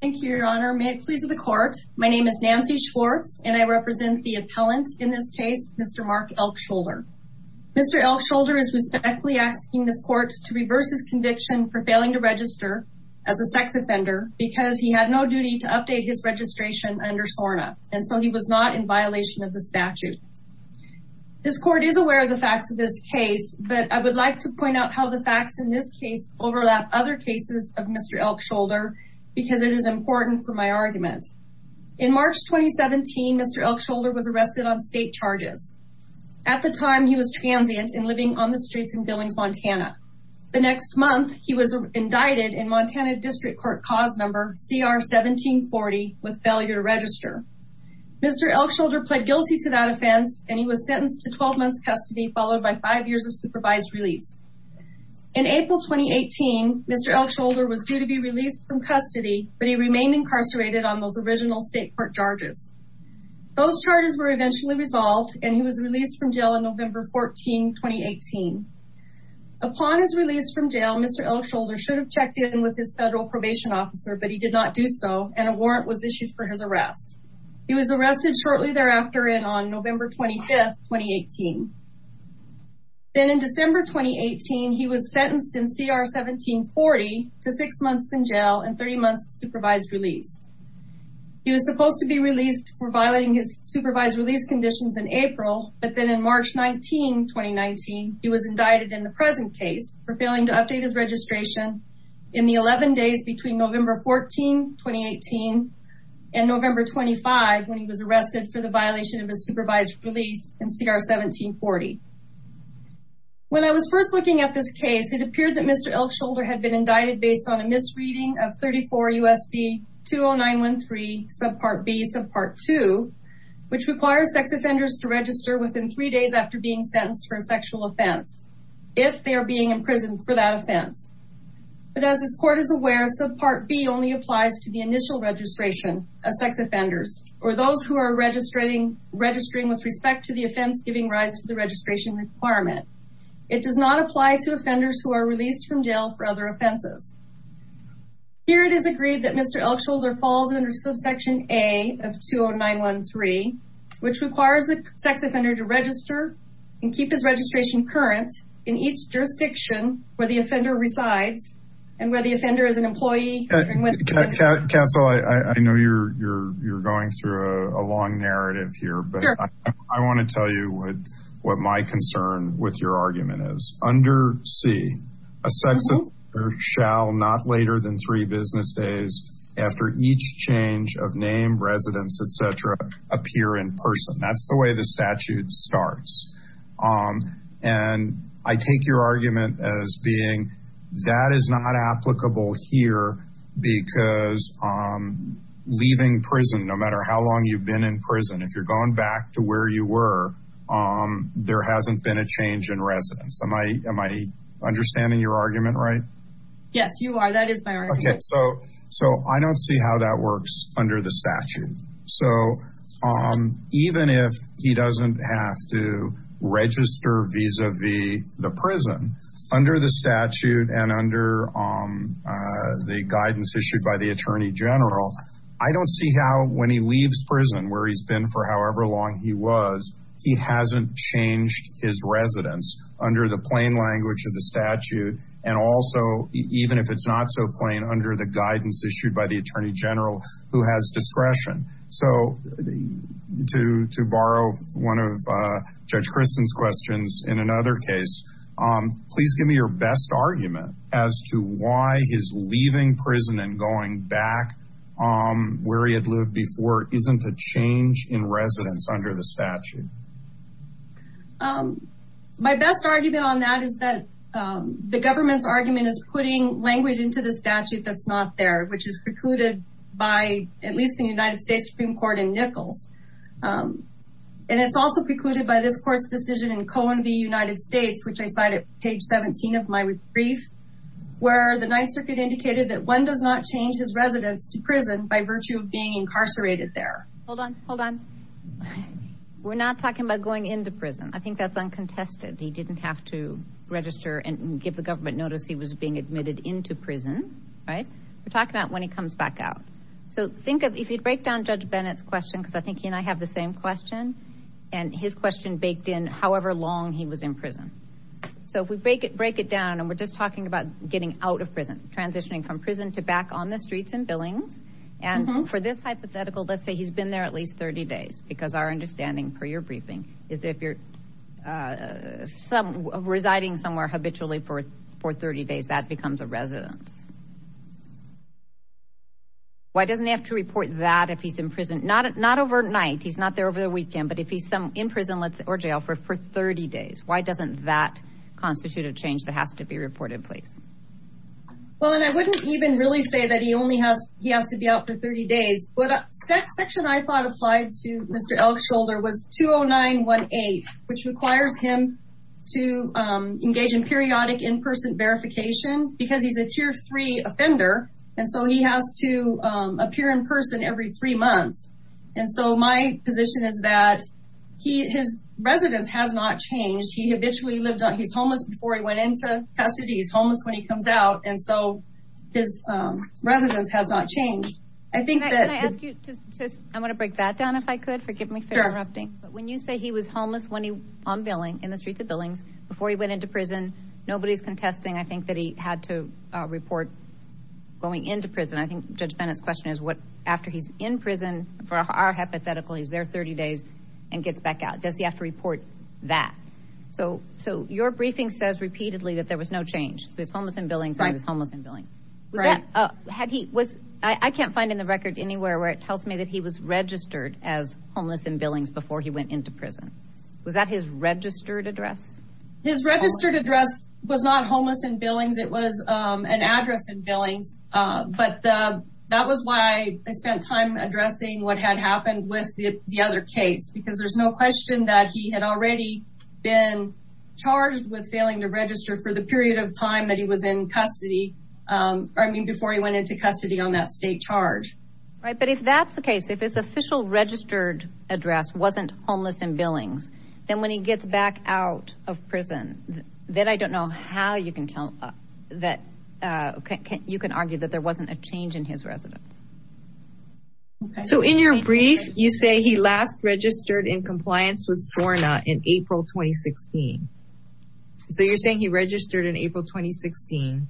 thank you your honor may it please of the court my name is Nancy Schwartz and I represent the appellant in this case mr. Mark Elkshoulder. Mr. Elkshoulder is respectfully asking this court to reverse his conviction for failing to register as a sex offender because he had no duty to update his registration under SORNA and so he was not in violation of the statute. This court is aware of the facts of this case but I would like to point out how the facts in this case overlap other cases of Mr. Elkshoulder because it is important for my argument. In March 2017 Mr. Elkshoulder was arrested on state charges. At the time he was transient and living on the streets in Billings, Montana. The next month he was indicted in Montana District Court cause number CR 1740 with failure to register. Mr. Elkshoulder pled guilty to that offense and he was sentenced to 12 months custody followed by five years of prison. In April 2018 Mr. Elkshoulder was due to be released from custody but he remained incarcerated on those original state court charges. Those charges were eventually resolved and he was released from jail in November 14, 2018. Upon his release from jail Mr. Elkshoulder should have checked in with his federal probation officer but he did not do so and a warrant was issued for his arrest. He was arrested shortly thereafter in on November 25th, 2018. Then in December 2018 he was sentenced in CR 1740 to six months in jail and 30 months supervised release. He was supposed to be released for violating his supervised release conditions in April but then in March 19, 2019 he was indicted in the present case for failing to update his registration in the 11 days between November 14, 2018 and November 25 when he was arrested for the violation of his CR 1740. When I was first looking at this case it appeared that Mr. Elkshoulder had been indicted based on a misreading of 34 U.S.C. 20913 subpart B subpart 2 which requires sex offenders to register within three days after being sentenced for a sexual offense if they are being imprisoned for that offense. But as this court is aware subpart B only applies to the initial registration of sex offenders or those who are registering with respect to the offense giving rise to the registration requirement. It does not apply to offenders who are released from jail for other offenses. Here it is agreed that Mr. Elkshoulder falls under subsection A of 20913 which requires the sex offender to register and keep his registration current in each jurisdiction where the offender resides and where the offender is an employee. Counsel I know you're going through a long narrative here but I want to tell you what what my concern with your argument is. Under C a sex offender shall not later than three business days after each change of name, residence, etc. appear in person. That's the way the statute starts and I take your argument as being that is not applicable here because leaving prison no matter how you've been in prison if you're going back to where you were there hasn't been a change in residence. Am I understanding your argument right? Yes you are that is my argument. Okay so I don't see how that works under the statute so even if he doesn't have to register vis-a-vis the prison under the statute and under the prison where he's been for however long he was he hasn't changed his residence under the plain language of the statute and also even if it's not so plain under the guidance issued by the Attorney General who has discretion. So to borrow one of Judge Kristen's questions in another case please give me your best argument as to why his leaving prison and going back on where he had lived before isn't a change in residence under the statute. My best argument on that is that the government's argument is putting language into the statute that's not there which is precluded by at least the United States Supreme Court in Nichols and it's also precluded by this court's decision in Cohen v. United where the Ninth Circuit indicated that one does not change his residence to prison by virtue of being incarcerated there. Hold on hold on we're not talking about going into prison I think that's uncontested he didn't have to register and give the government notice he was being admitted into prison right we're talking about when he comes back out. So think of if you'd break down Judge Bennett's question because I think he and I have the same question and his question baked in however long he was in prison. So if we break it break it down and we're just talking about getting out of prison transitioning from prison to back on the streets and billings and for this hypothetical let's say he's been there at least 30 days because our understanding per your briefing is if you're some residing somewhere habitually for for 30 days that becomes a residence. Why doesn't he have to report that if he's in prison not not overnight he's not there over the weekend but if he's some in prison or jail for for 30 days why doesn't that constitute a change that has to be reported please? Well and I wouldn't even really say that he only has he has to be out for 30 days but section I thought applied to Mr. Elkshoulder was 20918 which requires him to engage in periodic in-person verification because he's a tier 3 offender and so he has to appear in person every three months and so my position is that he his residence has not changed he habitually lived on he's homeless before he went into custody he's homeless when he comes out and so his residence has not changed. I think I want to break that down if I could forgive me for interrupting but when you say he was homeless when he on billing in the streets of billings before he went into prison nobody's contesting I think that he had to report going into prison I think Judge Bennett's question is what after he's in prison for our hypothetical he's there 30 days and gets back out does he have to report that so so your briefing says repeatedly that there was no change he was homeless in billings and he was homeless in billings right had he was I can't find in the record anywhere where it tells me that he was registered as homeless in billings before he went into prison was that his registered address? His registered address was not homeless in billings it was an address in billings but that was why I spent time addressing what had happened with the other case because there's no question that he had already been charged with failing to register for the period of time that he was in custody I mean before he went into custody on that state charge. Right but if that's the case if his official registered address wasn't homeless in billings then when he gets back out of prison then I don't know how you can tell that okay you can argue that there wasn't a change in his residence. So in your brief you say he last registered in compliance with SORNA in April 2016 so you're saying he registered in April 2016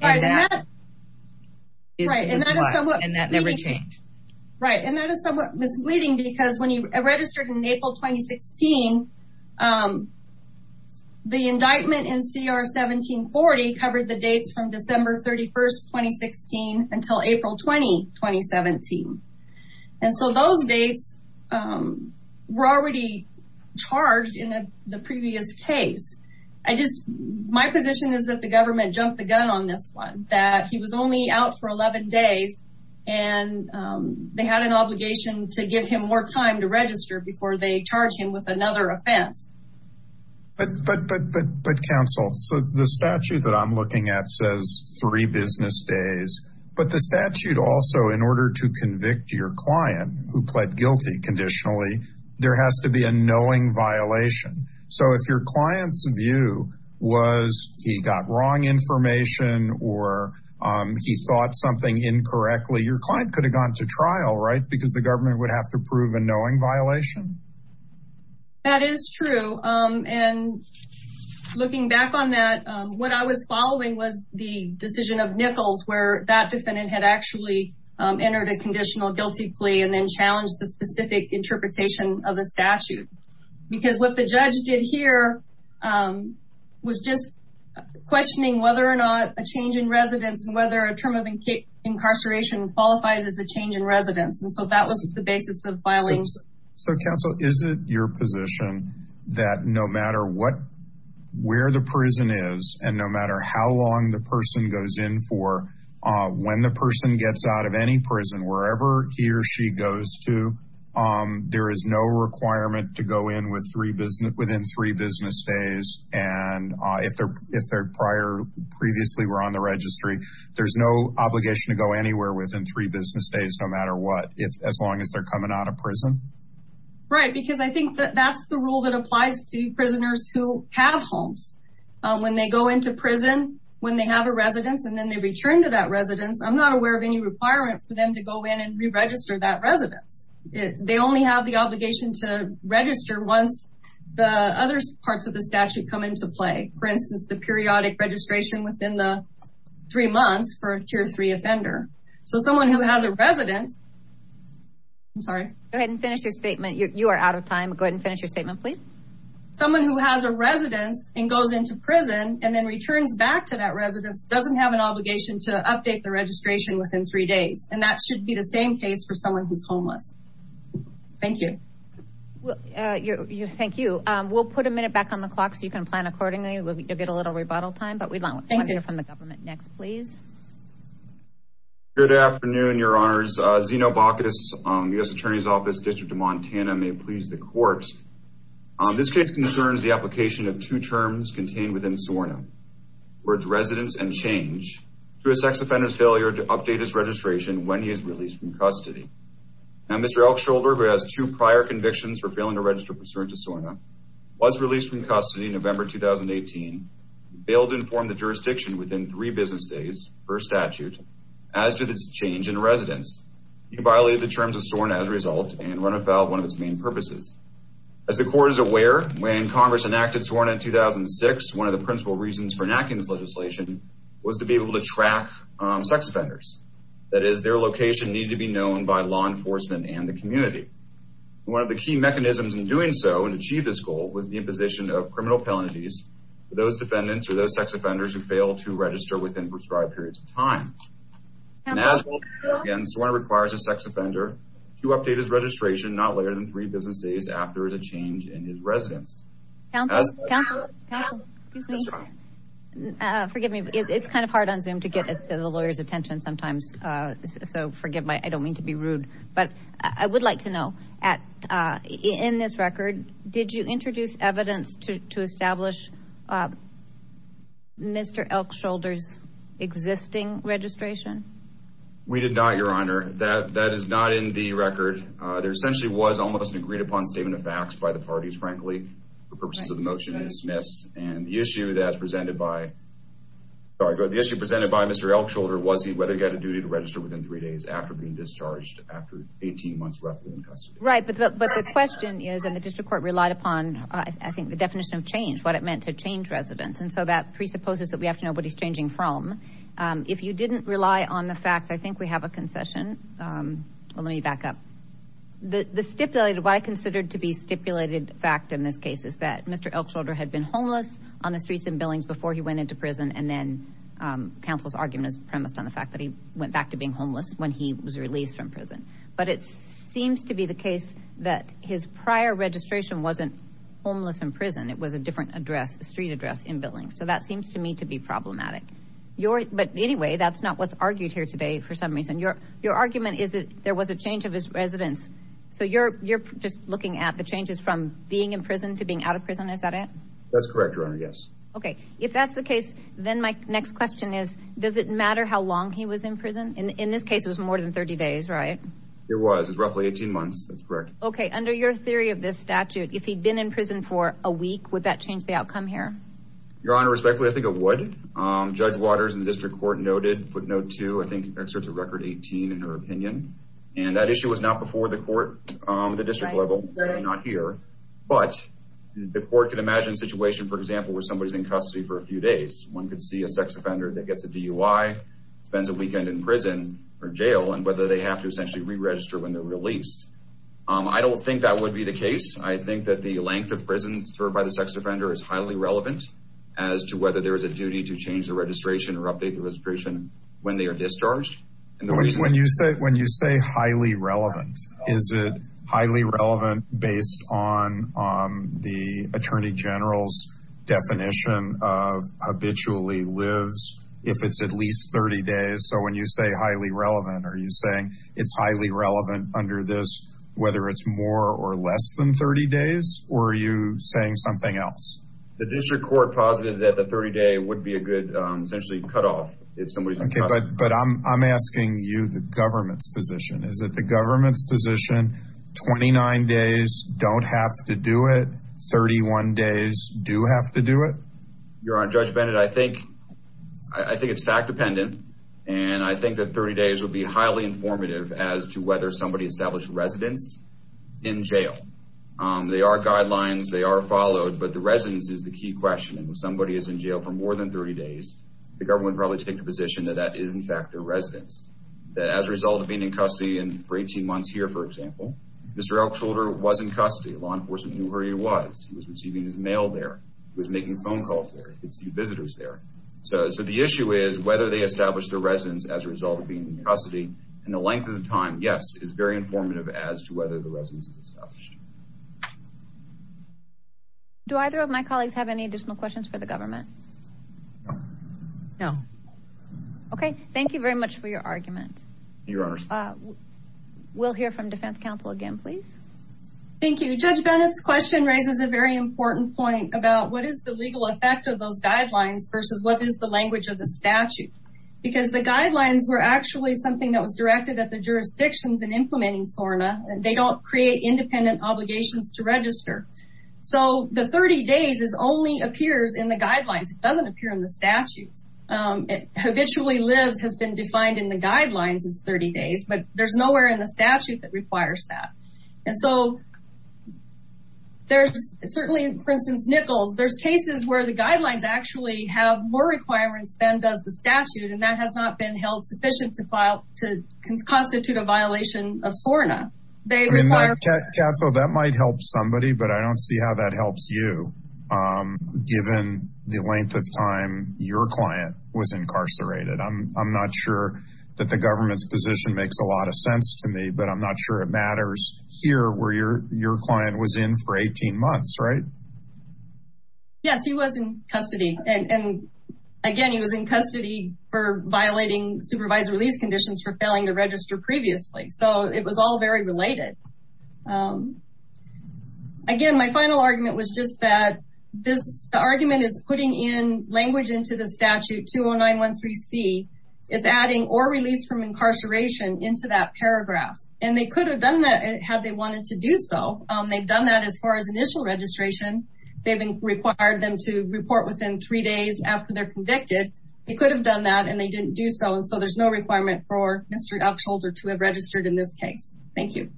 and that never changed. Right and that is somewhat misleading because when he indictment in CR 1740 covered the dates from December 31st 2016 until April 20 2017 and so those dates were already charged in the previous case. I just my position is that the government jumped the gun on this one that he was only out for 11 days and they had an obligation to give him more time to register before they charge him with another offense. But but but but but counsel so the statute that I'm looking at says three business days but the statute also in order to convict your client who pled guilty conditionally there has to be a knowing violation so if your clients view was he got wrong information or he thought something incorrectly your client could have gone to trial right because the government would have to prove a knowing violation? That is true and looking back on that what I was following was the decision of Nichols where that defendant had actually entered a conditional guilty plea and then challenged the specific interpretation of a statute because what the judge did here was just questioning whether or not a change in residence and whether a term of incarceration qualifies as a change in residence. So that was the basis of filing. So counsel is it your position that no matter what where the prison is and no matter how long the person goes in for when the person gets out of any prison wherever he or she goes to there is no requirement to go in with three business within three business days and if they're if they're prior previously were on the registry there's no obligation to go anywhere within three business days no matter what if as long as they're coming out of prison? Right because I think that that's the rule that applies to prisoners who have homes when they go into prison when they have a residence and then they return to that residence I'm not aware of any requirement for them to go in and re-register that residence. They only have the obligation to register once the other parts of the statute come into play for instance the someone who has a residence I'm sorry go ahead and finish your statement you are out of time go ahead and finish your statement please. Someone who has a residence and goes into prison and then returns back to that residence doesn't have an obligation to update the registration within three days and that should be the same case for someone who's homeless. Thank you. Thank you we'll put a minute back on the clock so you can plan accordingly we'll get a little rebuttal time but we'd like to hear from the government next please. Good afternoon your honors Zeno Bacchus U.S. Attorney's Office District of Montana may please the court. This case concerns the application of two terms contained within SORNA where it's residence and change to a sex offender's failure to update his registration when he is released from custody. Now Mr. Elkshoulder who has two prior convictions for failing to inform the jurisdiction within three business days per statute as to this change in residence. He violated the terms of SORNA as a result and run afoul of one of its main purposes. As the court is aware when Congress enacted SORNA in 2006 one of the principal reasons for enacting this legislation was to be able to track sex offenders that is their location need to be known by law enforcement and the community. One of the key mechanisms in doing so and achieve this goal was the imposition of criminal penalties for those defendants or those sex offenders who fail to register within prescribed periods of time. Again SORNA requires a sex offender to update his registration not later than three business days after the change in his residence. Forgive me it's kind of hard on zoom to get the lawyers attention sometimes so forgive my I don't mean to be rude but I would like to know at in this record did you introduce evidence to establish Mr. Elkshoulder's existing registration? We did not your honor that that is not in the record there essentially was almost an agreed-upon statement of facts by the parties frankly for purposes of the motion and dismiss and the issue that presented by the issue presented by Mr. Elkshoulder was he whether he got a duty to register within three days after being discharged after 18 months roughly in court relied upon I think the definition of change what it meant to change residents and so that presupposes that we have to know what he's changing from if you didn't rely on the fact I think we have a concession well let me back up the the stipulated what I considered to be stipulated fact in this case is that Mr. Elkshoulder had been homeless on the streets and buildings before he went into prison and then counsel's argument is premised on the fact that he went back to being homeless when he was released from prison but it wasn't homeless in prison it was a different address the street address in buildings so that seems to me to be problematic your but anyway that's not what's argued here today for some reason your your argument is that there was a change of his residence so you're you're just looking at the changes from being in prison to being out of prison is that it that's correct yes okay if that's the case then my next question is does it matter how long he was in prison in this case was more than 30 days right it was roughly 18 months that's correct okay under your theory of this statute if he'd been in prison for a week would that change the outcome here your honor respectfully I think it would judge waters in the district court noted footnote to I think exerts a record 18 in her opinion and that issue was not before the court the district level not here but the court could imagine situation for example where somebody's in custody for a few days one could see a sex offender that gets a DUI spends a weekend in prison or jail and whether they have to essentially reregister when they're released I don't think that would be the case I think that the length of prison served by the sex offender is highly relevant as to whether there is a duty to change the registration or update the registration when they are discharged when you say when you say highly relevant is it highly relevant based on the Attorney General's definition of habitually lives if it's at least 30 days so when you say highly relevant are you saying it's under this whether it's more or less than 30 days or are you saying something else the district court positive that the 30-day would be a good essentially cut off if somebody but I'm asking you the government's position is that the government's position 29 days don't have to do it 31 days do have to do it you're on Judge Bennett I think I think it's fact-dependent and I think that 30 days would be highly informative as to whether somebody established residence in jail they are guidelines they are followed but the residence is the key question somebody is in jail for more than 30 days the government probably take the position that that is in fact a residence that as a result of being in custody and for 18 months here for example mr. Elksholder wasn't custody law enforcement knew where he was he was receiving his mail there was making phone calls visitors there so so the issue is whether they established a custody and the length of the time yes is very informative as to whether the residence is established do either of my colleagues have any additional questions for the government no okay thank you very much for your argument your honor we'll hear from Defense Council again please thank you judge Bennett's question raises a very important point about what is the legal effect of those guidelines versus what is the language of the statute because the guidelines were actually something that was directed at the jurisdictions in implementing SORNA and they don't create independent obligations to register so the 30 days is only appears in the guidelines it doesn't appear in the statute it habitually lives has been defined in the guidelines as 30 days but there's nowhere in the statute that requires that and so there's certainly for instance Nichols there's cases where the guidelines actually have more sufficient to file to constitute a violation of SORNA they require cats so that might help somebody but I don't see how that helps you given the length of time your client was incarcerated I'm not sure that the government's position makes a lot of sense to me but I'm not sure it matters here where your your client was in for 18 months right yes he was in custody and again he was in revised release conditions for failing to register previously so it was all very related again my final argument was just that this argument is putting in language into the statute 209 13 C it's adding or release from incarceration into that paragraph and they could have done that had they wanted to do so they've done that as far as initial registration they've been required them to report within three days after they're convicted they could have done that and they didn't do so and so there's no requirement for Mr. Upshoulder to have registered in this case thank you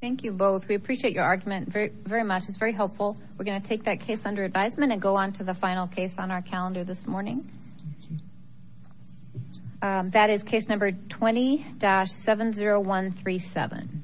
thank you both we appreciate your argument very much it's very helpful we're gonna take that case under advisement and go on to the final case on our calendar this morning that is case number 20 7 0 1 3 7